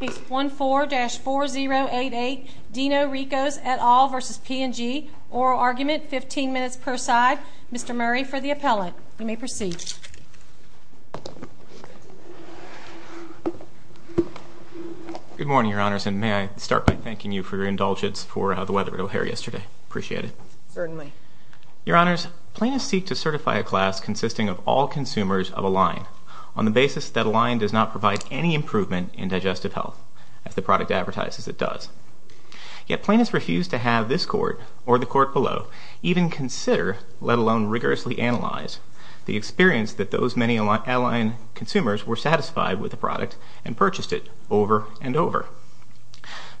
Case 14-4088, Dino Rikos et al. v. P and G, Oral Argument, 15 minutes per side. Mr. Murray for the appellate. You may proceed. Good morning, Your Honors, and may I start by thanking you for your indulgence for the weather it'll hair yesterday. Appreciate it. Certainly. Your Honors, plaintiffs seek to certify a class consisting of all consumers of a line on the basis that a line does not provide any improvement in digestive health, as the product advertises it does. Yet plaintiffs refuse to have this court or the court below even consider, let alone rigorously analyze, the experience that those many a line consumers were satisfied with the product and purchased it over and over.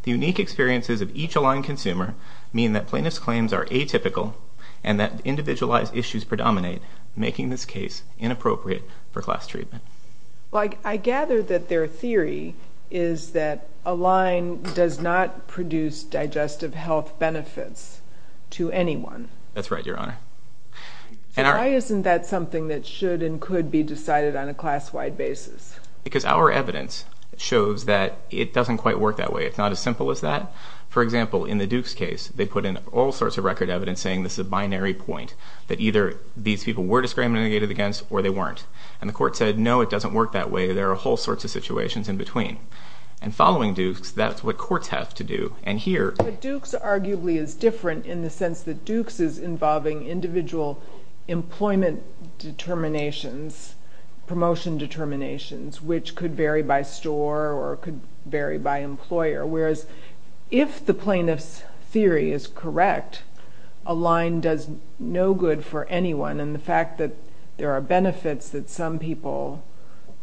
The unique experiences of each a line consumer mean that plaintiffs' claims are atypical and that individualized issues predominate, making this case inappropriate for class treatment. I gather that their theory is that a line does not produce digestive health benefits to anyone. That's right, Your Honor. Why isn't that something that should and could be decided on a class-wide basis? Because our evidence shows that it doesn't quite work that way. It's not as simple as that. For example, in the Dukes case, they put in all sorts of record evidence saying this is a binary point, that either these people were discriminated against or they weren't. And the court said, no, it doesn't work that way. There are whole sorts of situations in between. And following Dukes, that's what courts have to do. But Dukes arguably is different in the sense that Dukes is involving individual employment determinations, promotion determinations, which could vary by store or could vary by employer. Whereas if the plaintiff's theory is correct, a line does no good for anyone. And the fact that there are benefits that some people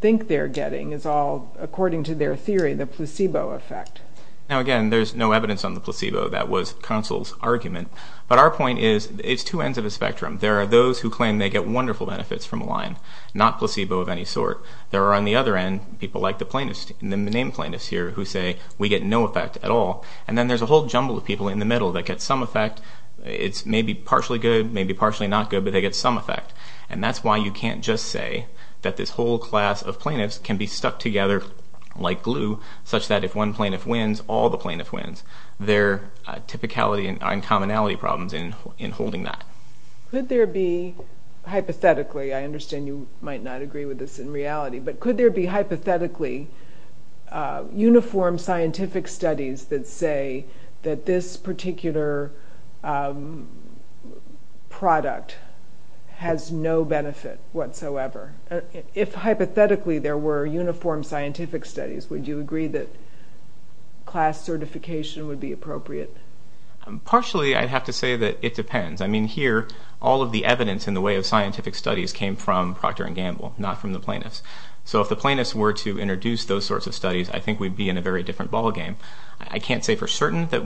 think they're getting is all, according to their theory, the placebo effect. Now, again, there's no evidence on the placebo. That was counsel's argument. But our point is, it's two ends of a spectrum. There are those who claim they get wonderful benefits from a line, not placebo of any sort. There are, on the other end, people like the named plaintiffs here who say we get no effect at all. And then there's a whole jumble of people in the middle that get some effect. It's maybe partially good, maybe partially not good, but they get some effect. And that's why you can't just say that this whole class of plaintiffs can be stuck together like glue, such that if one plaintiff wins, all the plaintiffs win. There are typicality and commonality problems in holding that. Could there be, hypothetically, I understand you might not agree with this in reality, but could there be, hypothetically, uniform scientific studies that say that this particular product has no benefit whatsoever? If, hypothetically, there were uniform scientific studies, would you agree that class certification would be appropriate? Partially, I'd have to say that it depends. I mean, here, all of the evidence in the way of scientific studies came from Procter & Gamble, not from the plaintiffs. So if the plaintiffs were to introduce those sorts of studies, I think we'd be in a very different ballgame. I can't say for certain that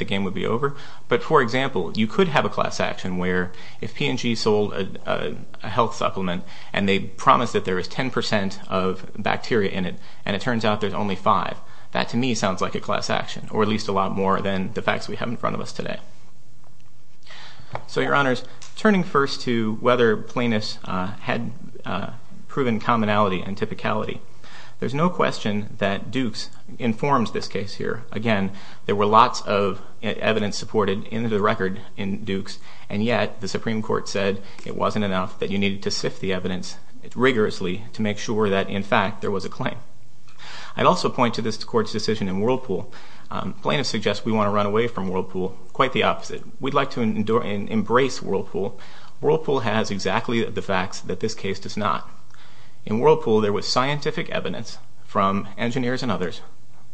the game would be over. But, for example, you could have a class action where if P&G sold a health supplement and they promised that there was 10 percent of bacteria in it, and it turns out there's only five, that, to me, sounds like a class action, or at least a lot more than the facts we have in front of us today. So, Your Honors, turning first to whether plaintiffs had proven commonality and typicality, there's no question that Dukes informs this case here. Again, there were lots of evidence supported into the record in Dukes, and yet the Supreme Court said it wasn't enough, that you needed to sift the evidence rigorously to make sure that, in fact, there was a claim. I'd also point to this Court's decision in Whirlpool. Plaintiffs suggest we want to run away from Whirlpool. Quite the opposite. We'd like to embrace Whirlpool. Whirlpool has exactly the facts that this case does not. In Whirlpool, there was scientific evidence from engineers and others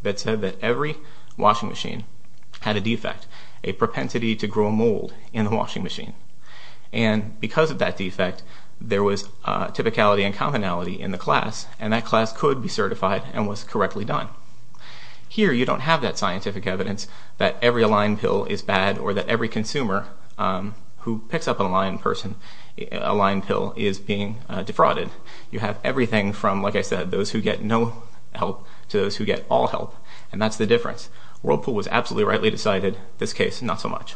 that said that every washing machine had a defect, a propensity to grow a mold in the washing machine. And because of that defect, there was typicality and commonality in the class, and that class could be certified and was correctly done. Here, you don't have that scientific evidence that every Align pill is bad or that every consumer who picks up an Align pill is being defrauded. You have everything from, like I said, those who get no help to those who get all help, and that's the difference. Whirlpool was absolutely rightly decided. This case, not so much.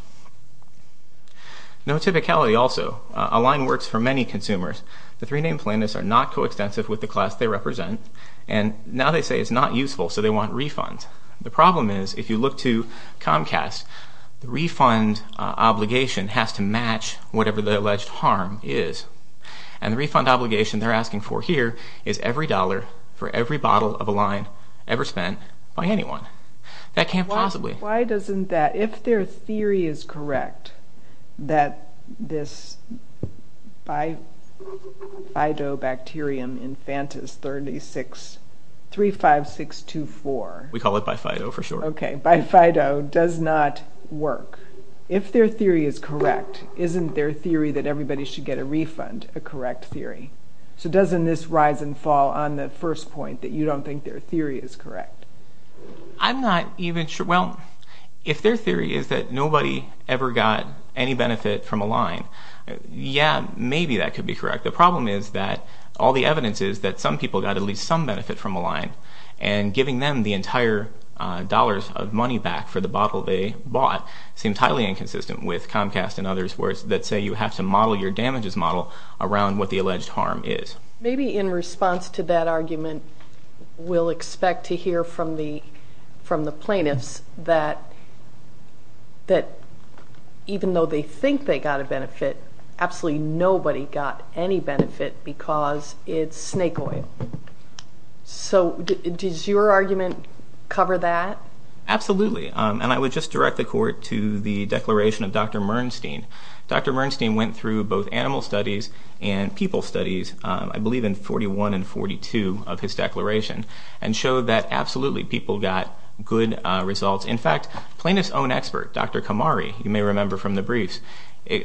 No typicality also. Align works for many consumers. The three named plaintiffs are not coextensive with the class they represent, and now they say it's not useful, so they want refunds. The problem is, if you look to Comcast, the refund obligation has to match whatever the alleged harm is. And the refund obligation they're asking for here is every dollar for every bottle of Align ever spent by anyone. That can't possibly... Why doesn't that, if their theory is correct, that this bifidobacterium infantis 35624... We call it bifido for short. Okay, bifido does not work. If their theory is correct, isn't their theory that everybody should get a refund a correct theory? So doesn't this rise and fall on the first point, that you don't think their theory is correct? I'm not even sure. Well, if their theory is that nobody ever got any benefit from Align, yeah, maybe that could be correct. The problem is that all the evidence is that some people got at least some benefit from Align, and giving them the entire dollars of money back for the bottle they bought seems highly inconsistent with Comcast and others that say you have to model your damages model around what the alleged harm is. Maybe in response to that argument, we'll expect to hear from the plaintiffs that even though they think they got a benefit, absolutely nobody got any benefit because it's snake oil. So does your argument cover that? Absolutely. And I would just direct the court to the declaration of Dr. Mernstein. Dr. Mernstein went through both animal studies and people studies, I believe in 41 and 42 of his declaration, and showed that absolutely people got good results. In fact, plaintiff's own expert, Dr. Kamari, you may remember from the briefs,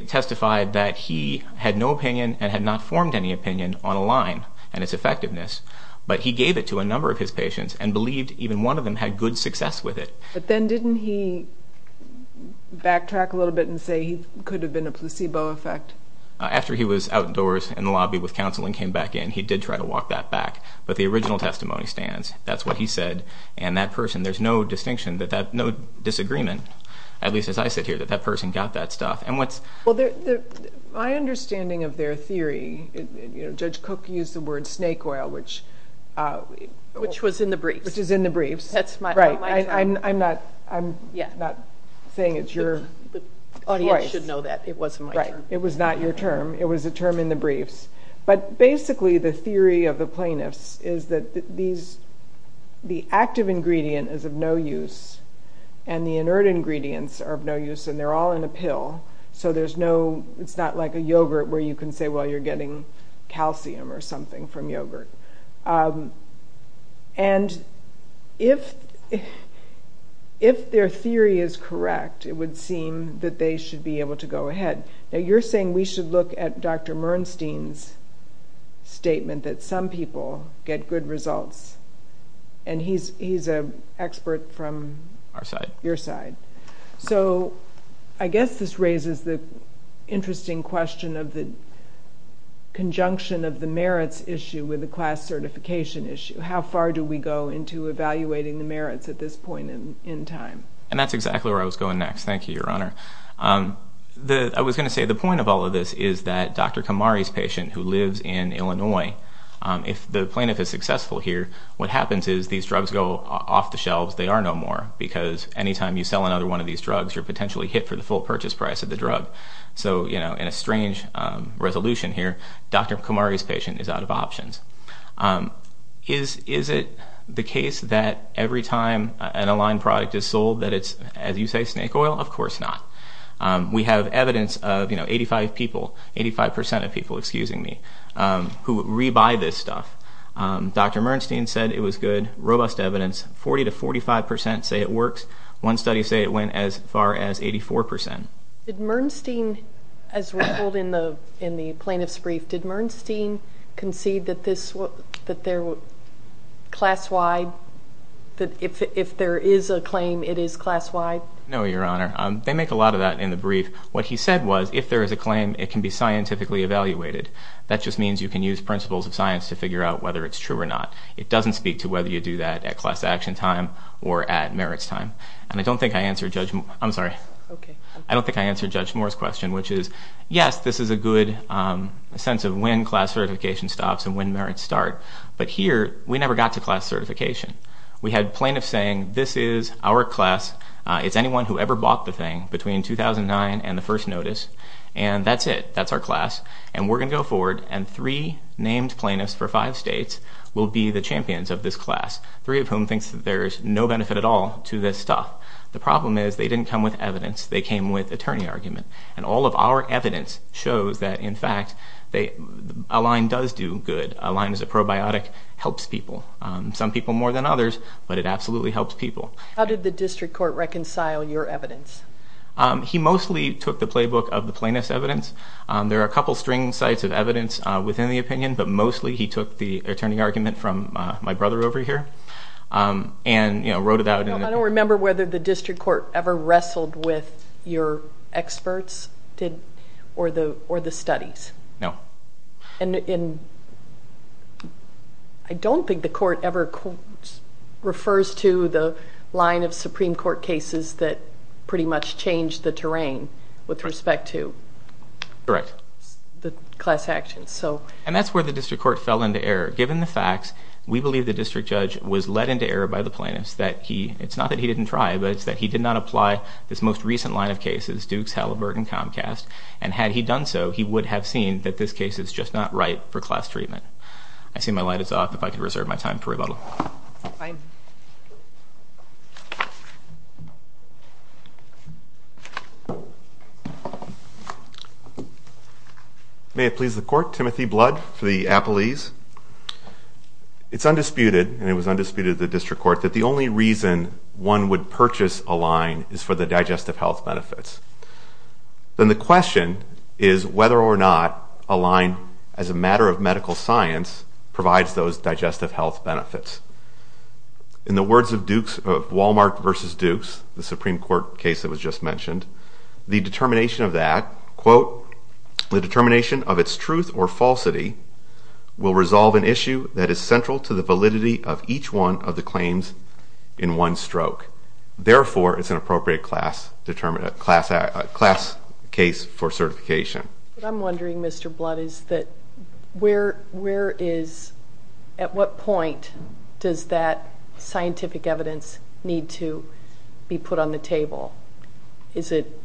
testified that he had no opinion and had not formed any opinion on Align and its effectiveness, but he gave it to a number of his patients and believed even one of them had good success with it. But then didn't he backtrack a little bit and say he could have been a placebo effect? After he was outdoors in the lobby with counsel and came back in, he did try to walk that back. But the original testimony stands. That's what he said. And that person, there's no distinction, no disagreement, at least as I sit here, that that person got that stuff. My understanding of their theory, Judge Cook used the word snake oil, which was in the briefs. Which is in the briefs. I'm not saying it's your choice. The audience should know that. It wasn't my term. It was not your term. It was a term in the briefs. But basically the theory of the plaintiffs is that the active ingredient is of no use and the inert ingredients are of no use and they're all in a pill, so it's not like a yogurt where you can say, well, you're getting calcium or something from yogurt. And if their theory is correct, it would seem that they should be able to go ahead. Now, you're saying we should look at Dr. Mernstein's statement that some people get good results, and he's an expert from your side. So I guess this raises the interesting question of the conjunction of the merits issue with the class certification issue. How far do we go into evaluating the merits at this point in time? And that's exactly where I was going next. Thank you, Your Honor. I was going to say the point of all of this is that Dr. Kamari's patient, who lives in Illinois, if the plaintiff is successful here, what happens is these drugs go off the shelves. They are no more, because any time you sell another one of these drugs, you're potentially hit for the full purchase price of the drug. So in a strange resolution here, Dr. Kamari's patient is out of options. Is it the case that every time an Align product is sold that it's, as you say, snake oil? Of course not. We have evidence of 85% of people who rebuy this stuff. Dr. Mernstein said it was good, robust evidence. 40% to 45% say it works. One study said it went as far as 84%. Did Mernstein, as reveled in the plaintiff's brief, did Mernstein concede that if there is a claim, it is class-wide? No, Your Honor. They make a lot of that in the brief. What he said was if there is a claim, it can be scientifically evaluated. That just means you can use principles of science to figure out whether it's true or not. It doesn't speak to whether you do that at class action time or at merits time. And I don't think I answered Judge Moore's question, which is, yes, this is a good sense of when class certification stops and when merits start. But here we never got to class certification. We had plaintiffs saying this is our class, it's anyone who ever bought the thing between 2009 and the first notice, and that's it, that's our class, and we're going to go forward and three named plaintiffs for five states will be the champions of this class, three of whom think there's no benefit at all to this stuff. The problem is they didn't come with evidence. They came with attorney argument. And all of our evidence shows that, in fact, a line does do good. A line is a probiotic, helps people, some people more than others, but it absolutely helps people. How did the district court reconcile your evidence? He mostly took the playbook of the plaintiff's evidence. There are a couple string sites of evidence within the opinion, but mostly he took the attorney argument from my brother over here and wrote it out. I don't remember whether the district court ever wrestled with your experts or the studies. No. And I don't think the court ever refers to the line of Supreme Court cases that pretty much changed the terrain with respect to the class actions. And that's where the district court fell into error. Given the facts, we believe the district judge was led into error by the plaintiffs that he, it's not that he didn't try, but it's that he did not apply this most recent line of cases, Dukes, Halliburton, Comcast, and had he done so, he would have seen that this case is just not right for class treatment. I see my light is off. If I could reserve my time for rebuttal. May it please the court, Timothy Blood for the Appalese. It's undisputed, and it was undisputed at the district court, that the only reason one would purchase a line is for the digestive health benefits. Then the question is whether or not a line, as a matter of medical science, provides those digestive health benefits. In the words of Walmart versus Dukes, the Supreme Court case that was just mentioned, the determination of that, quote, the determination of its truth or falsity will resolve an issue that is central to the validity of each one of the claims in one stroke. Therefore, it's an appropriate class case for certification. What I'm wondering, Mr. Blood, is that where is, at what point, does that scientific evidence need to be put on the table? Is it,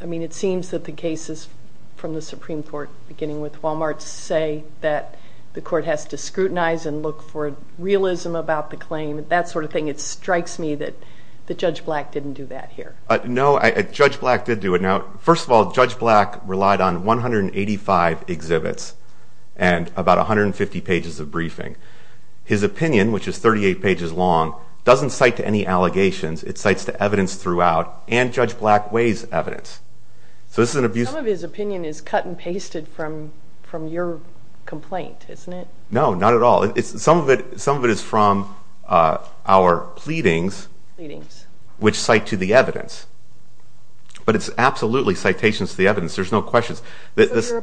I mean, it seems that the cases from the Supreme Court, beginning with Walmart, say that the court has to scrutinize and look for realism about the claim, that sort of thing. It strikes me that Judge Black didn't do that here. No, Judge Black did do it. Now, first of all, Judge Black relied on 185 exhibits and about 150 pages of briefing. His opinion, which is 38 pages long, doesn't cite to any allegations. It cites to evidence throughout, and Judge Black weighs evidence. Some of his opinion is cut and pasted from your complaint, isn't it? No, not at all. Some of it is from our pleadings, which cite to the evidence. But it's absolutely citations to the evidence. There's no questions. Your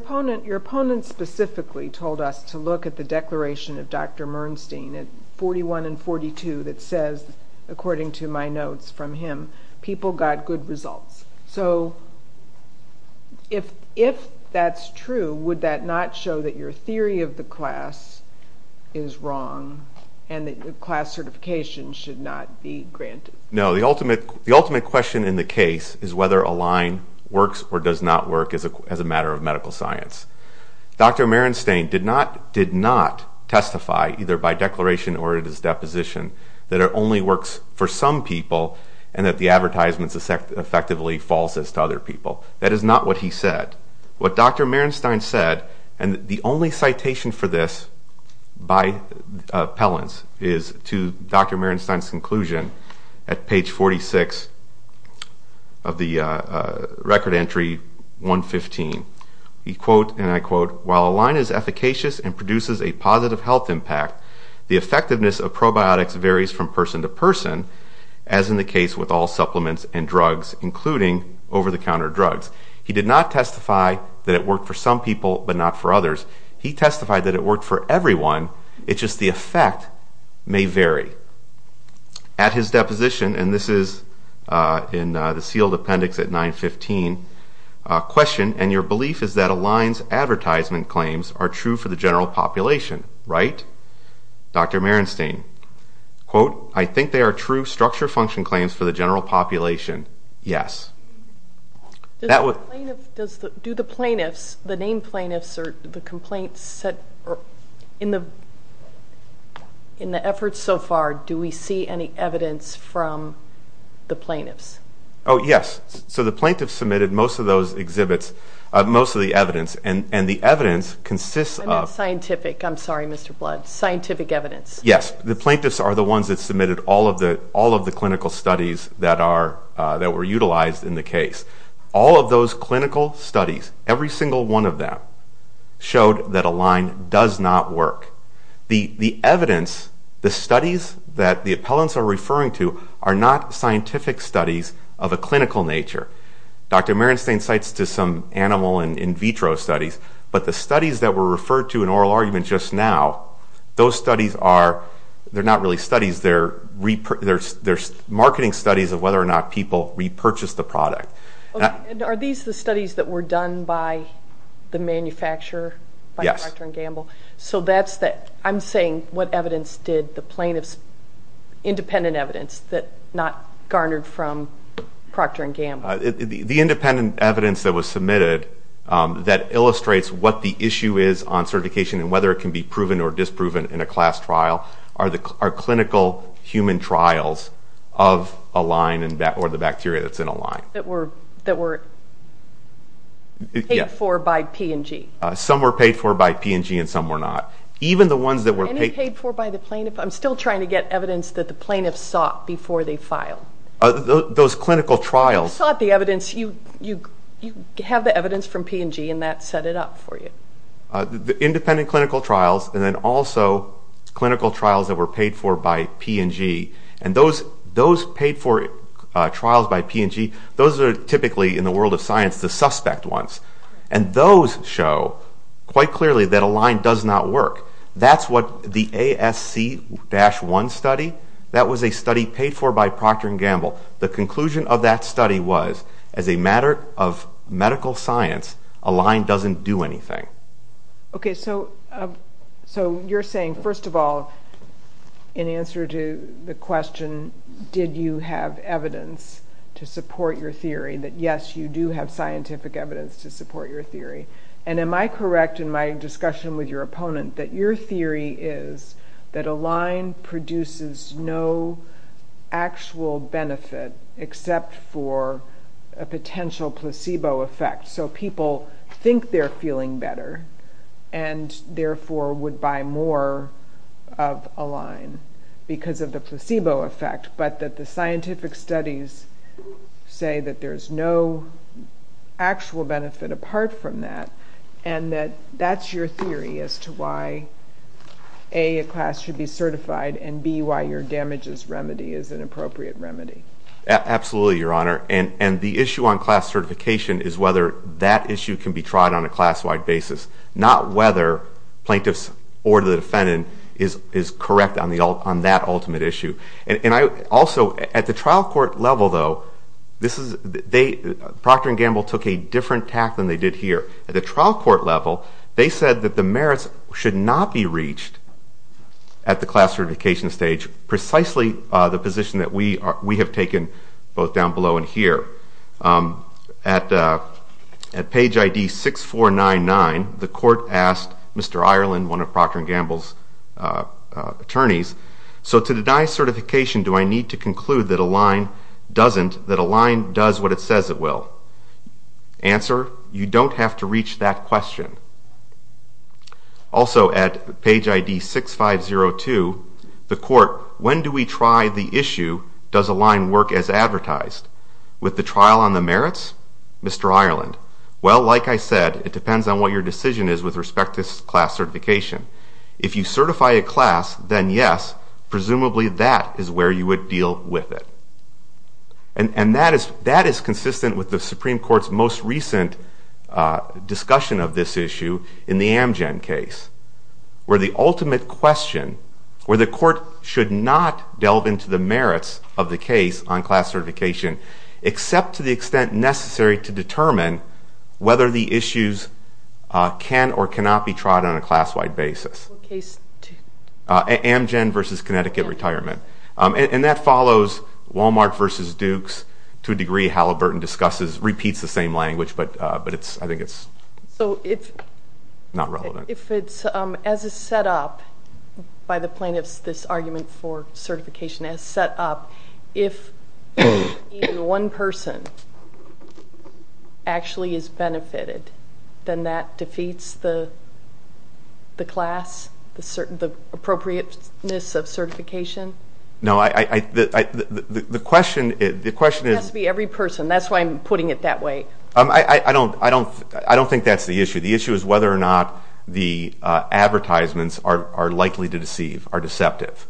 opponent specifically told us to look at the declaration of Dr. Mernstein at 41 and 42 that says, according to my notes from him, people got good results. So if that's true, would that not show that your theory of the class is wrong and that class certification should not be granted? No. The ultimate question in the case is whether a line works or does not work as a matter of medical science. Dr. Mernstein did not testify, either by declaration or at his deposition, that it only works for some people and that the advertisement is effectively false as to other people. That is not what he said. What Dr. Mernstein said, and the only citation for this by appellants, is to Dr. Mernstein's conclusion at page 46 of the record entry 115. He quote, and I quote, While a line is efficacious and produces a positive health impact, the effectiveness of probiotics varies from person to person, as in the case with all supplements and drugs, including over-the-counter drugs. He did not testify that it worked for some people but not for others. He testified that it worked for everyone. It's just the effect may vary. At his deposition, and this is in the sealed appendix at 915, a question, and your belief is that a line's advertisement claims are true for the general population, right? Dr. Mernstein, quote, I think they are true structure function claims for the general population. Yes. That would Do the plaintiffs, the named plaintiffs or the complaints set, in the efforts so far, do we see any evidence from the plaintiffs? Oh, yes. So the plaintiffs submitted most of those exhibits, most of the evidence, and the evidence consists of I meant scientific. I'm sorry, Mr. Blood. Scientific evidence. Yes. The plaintiffs are the ones that submitted all of the clinical studies that were utilized in the case. All of those clinical studies, every single one of them, showed that a line does not work. The evidence, the studies that the appellants are referring to are not scientific studies of a clinical nature. Dr. Mernstein cites to some animal in vitro studies, but the studies that were referred to in oral argument just now, those studies are, they're not really studies, they're marketing studies of whether or not people repurchased the product. Are these the studies that were done by the manufacturer, by the doctor in Gamble? Yes. So that's the, I'm saying what evidence did the plaintiffs, independent evidence that not garnered from Procter and Gamble. The independent evidence that was submitted that illustrates what the issue is on certification and whether it can be proven or disproven in a class trial are clinical human trials of a line or the bacteria that's in a line. That were paid for by P&G. Some were paid for by P&G and some were not. Even the ones that were paid for by the plaintiff, I'm still trying to get evidence that the plaintiffs sought before they filed. Those clinical trials. You sought the evidence, you have the evidence from P&G and that set it up for you. Independent clinical trials and then also clinical trials that were paid for by P&G and those paid for trials by P&G, those are typically in the world of science the suspect ones and those show quite clearly that a line does not work. That's what the ASC-1 study, that was a study paid for by Procter and Gamble. The conclusion of that study was, as a matter of medical science, a line doesn't do anything. Okay, so you're saying, first of all, in answer to the question, did you have evidence to support your theory, that yes, you do have scientific evidence to support your theory. And am I correct in my discussion with your opponent that your theory is that a line produces no actual benefit except for a potential placebo effect. So people think they're feeling better and therefore would buy more of a line because of the placebo effect, but that the scientific studies say that there's no actual benefit apart from that and that that's your theory as to why, A, a class should be certified and, B, why your damages remedy is an appropriate remedy. Absolutely, Your Honor, and the issue on class certification is whether that issue can be tried on a class-wide basis, not whether plaintiffs or the defendant is correct on that ultimate issue. Also, at the trial court level, though, Procter & Gamble took a different tack than they did here. At the trial court level, they said that the merits should not be reached at the class certification stage, precisely the position that we have taken both down below and here. At page ID 6499, the court asked Mr. Ireland, one of Procter & Gamble's attorneys, So to deny certification, do I need to conclude that a line doesn't, that a line does what it says it will? Answer, you don't have to reach that question. Also at page ID 6502, the court, When do we try the issue, does a line work as advertised? With the trial on the merits? Mr. Ireland, well, like I said, it depends on what your decision is with respect to class certification. If you certify a class, then yes, presumably that is where you would deal with it. And that is consistent with the Supreme Court's most recent discussion of this issue in the Amgen case, where the ultimate question, where the court should not delve into the merits of the case on class certification except to the extent necessary to determine whether the issues can or cannot be tried on a class-wide basis. What case? Amgen v. Connecticut Retirement. And that follows Wal-Mart v. Dukes to a degree. Halliburton discusses, repeats the same language, but I think it's not relevant. So if it's as is set up by the plaintiffs, this argument for certification as set up, if even one person actually is benefited, then that defeats the class, the appropriateness of certification? No, the question is to be every person. That's why I'm putting it that way. I don't think that's the issue. The issue is whether or not the advertisements are likely to deceive, are deceptive.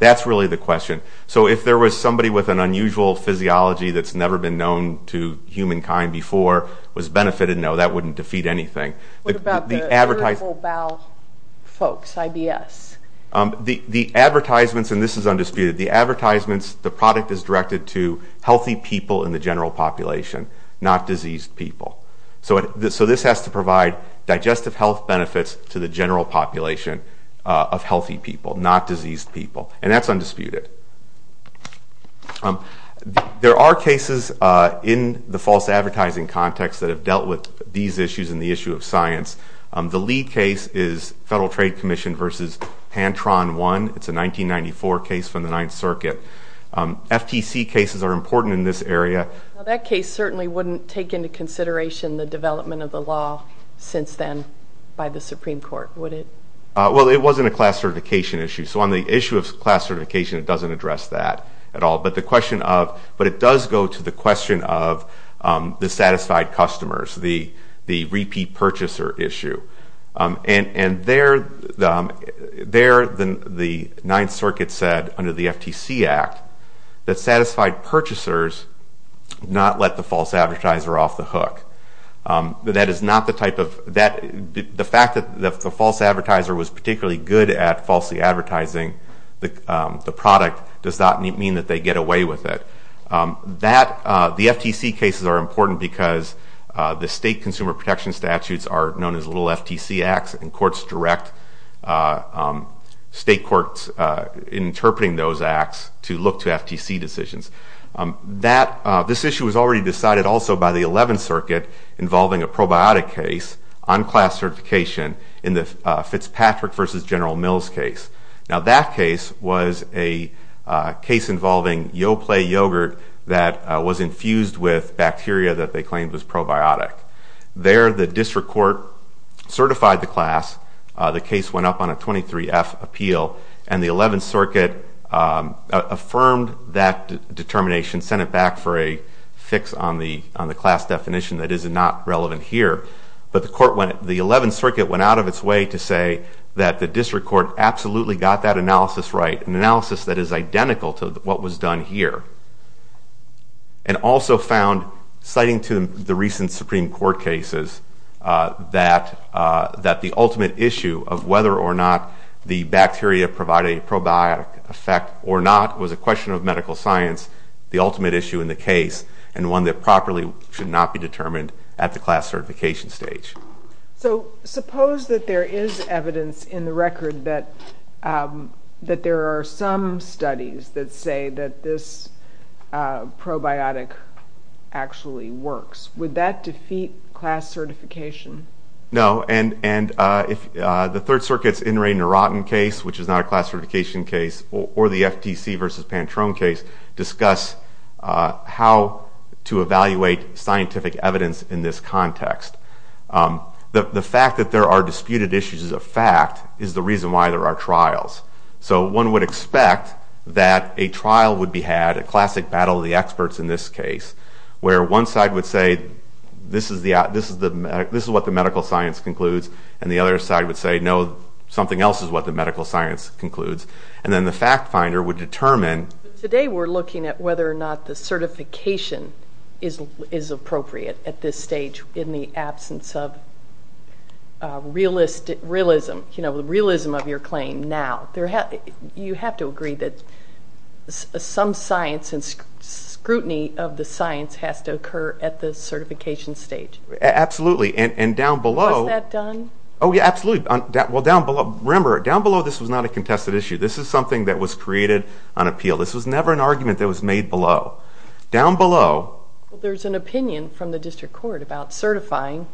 That's really the question. So if there was somebody with an unusual physiology that's never been known to humankind before was benefited, no, that wouldn't defeat anything. What about the irritable bowel folks, IBS? The advertisements, and this is undisputed, the product is directed to healthy people in the general population, not diseased people. So this has to provide digestive health benefits to the general population of healthy people, not diseased people. And that's undisputed. There are cases in the false advertising context that have dealt with these issues and the issue of science. The lead case is Federal Trade Commission v. Pantron I. It's a 1994 case from the Ninth Circuit. FTC cases are important in this area. That case certainly wouldn't take into consideration the development of the law since then by the Supreme Court, would it? Well, it wasn't a class certification issue. So on the issue of class certification, it doesn't address that at all. But it does go to the question of the satisfied customers, the repeat purchaser issue. And there the Ninth Circuit said under the FTC Act that satisfied purchasers not let the false advertiser off the hook. The fact that the false advertiser was particularly good at falsely advertising the product does not mean that they get away with it. The FTC cases are important because the state consumer protection statutes are known as little FTC acts, and courts direct state courts interpreting those acts to look to FTC decisions. This issue was already decided also by the Eleventh Circuit involving a probiotic case on class certification in the Fitzpatrick v. General Mills case. Now that case was a case involving Yoplait yogurt that was infused with bacteria that they claimed was probiotic. There the district court certified the class. The case went up on a 23-F appeal. And the Eleventh Circuit affirmed that determination, sent it back for a fix on the class definition that is not relevant here. But the Eleventh Circuit went out of its way to say that the district court absolutely got that analysis right, an analysis that is identical to what was done here. And also found, citing to the recent Supreme Court cases, that the ultimate issue of whether or not the bacteria provided a probiotic effect or not was a question of medical science, the ultimate issue in the case, and one that properly should not be determined at the class certification stage. So suppose that there is evidence in the record that there are some studies that say that this probiotic actually works. Would that defeat class certification? No, and if the Third Circuit's NREI-Nurotin case, which is not a class certification case, or the FTC v. Pantrone case, discuss how to evaluate scientific evidence in this context. The fact that there are disputed issues of fact is the reason why there are trials. So one would expect that a trial would be had, a classic battle of the experts in this case, where one side would say, this is what the medical science concludes, and the other side would say, no, something else is what the medical science concludes, and then the fact finder would determine. Today we're looking at whether or not the certification is appropriate at this stage in the absence of realism of your claim now. You have to agree that some science and scrutiny of the science has to occur at the certification stage. Absolutely, and down below... Was that done? Oh, yeah, absolutely. Remember, down below this was not a contested issue. This is something that was created on appeal. This was never an argument that was made below. Down below... There's an opinion from the district court about certifying.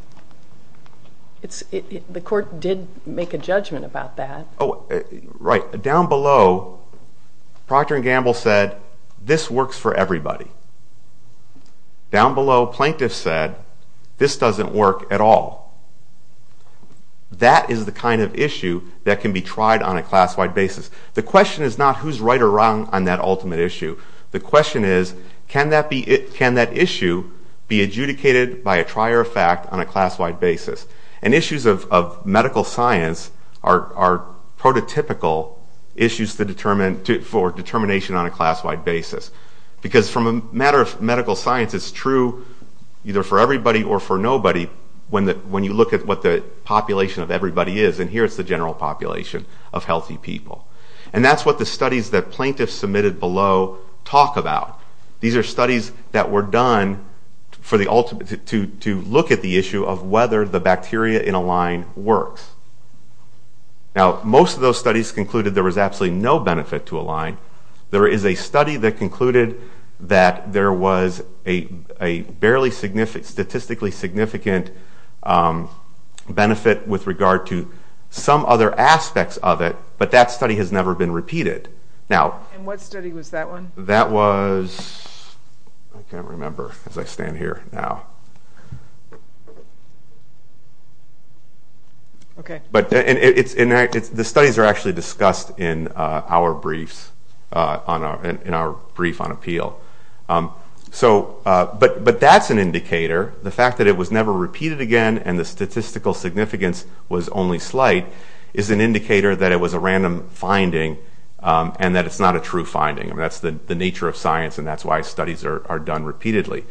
The court did make a judgment about that. Oh, right. Down below, Procter & Gamble said, this works for everybody. Down below, plaintiffs said, this doesn't work at all. That is the kind of issue that can be tried on a class-wide basis. The question is not who's right or wrong on that ultimate issue. The question is, can that issue be adjudicated by a trier of fact on a class-wide basis? Issues of medical science are prototypical issues for determination on a class-wide basis. Because from a matter of medical science, it's true either for everybody or for nobody when you look at what the population of everybody is, and here it's the general population of healthy people. And that's what the studies that plaintiffs submitted below talk about. These are studies that were done to look at the issue of whether the bacteria in a line works. Now, most of those studies concluded there was absolutely no benefit to a line. There is a study that concluded that there was a statistically significant benefit with regard to some other aspects of it, but that study has never been repeated. And what study was that one? That was, I can't remember as I stand here now. The studies are actually discussed in our brief on appeal. But that's an indicator. The fact that it was never repeated again and the statistical significance was only slight is an indicator that it was a random finding and that it's not a true finding. That's the nature of science, and that's why studies are done repeatedly.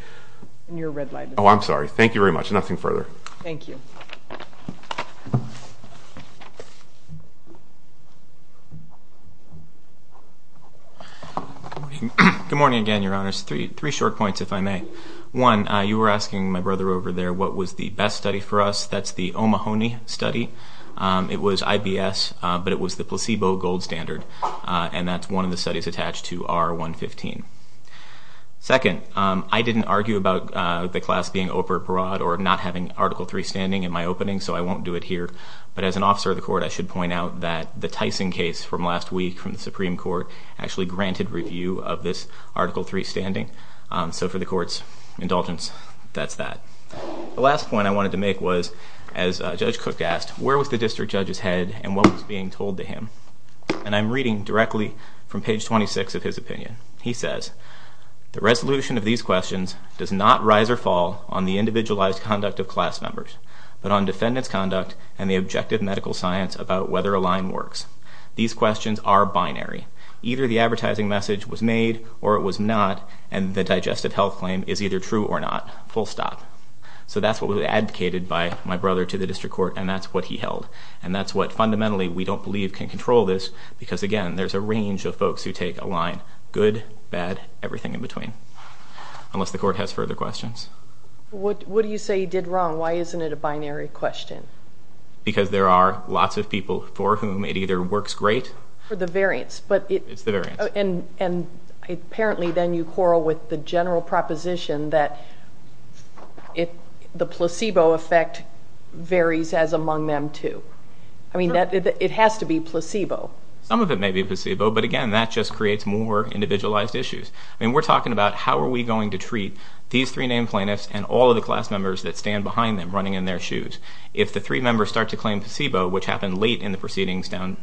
Oh, I'm sorry. Thank you very much. Nothing further. Thank you. Good morning again, Your Honors. Three short points, if I may. One, you were asking my brother over there what was the best study for us. That's the Omahonee study. It was IBS, but it was the placebo gold standard, and that's one of the studies attached to R115. Second, I didn't argue about the class being oper parod or not having Article III standing in my opening, so I won't do it here. But as an officer of the court, I should point out that the Tyson case from last week from the Supreme Court actually granted review of this Article III standing. So for the Court's indulgence, that's that. The last point I wanted to make was, as Judge Cook asked, where was the district judge's head and what was being told to him? And I'm reading directly from page 26 of his opinion. He says, The resolution of these questions does not rise or fall on the individualized conduct of class members, but on defendant's conduct and the objective medical science about whether a line works. These questions are binary. Either the advertising message was made or it was not, and the digestive health claim is either true or not, full stop. So that's what was advocated by my brother to the district court, and that's what he held. And that's what fundamentally we don't believe can control this, because, again, there's a range of folks who take a line, good, bad, everything in between. Unless the Court has further questions. What do you say he did wrong? Why isn't it a binary question? Because there are lots of people for whom it either works great... For the variance, but it... It's the variance. And apparently then you quarrel with the general proposition that the placebo effect varies as among them, too. I mean, it has to be placebo. Some of it may be placebo, but, again, that just creates more individualized issues. I mean, we're talking about how are we going to treat these three named plaintiffs and all of the class members that stand behind them running in their shoes. If the three members start to claim placebo, which happened late in the proceedings down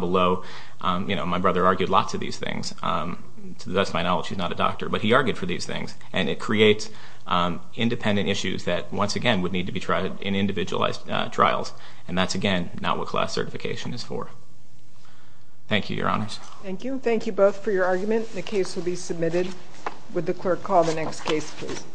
below, you know, my brother argued lots of these things. To the best of my knowledge, he's not a doctor, but he argued for these things. And it creates independent issues that, once again, would need to be tried in individualized trials. And that's, again, not what class certification is for. Thank you, Your Honors. Thank you. Thank you both for your argument. The case will be submitted. Would the clerk call the next case, please?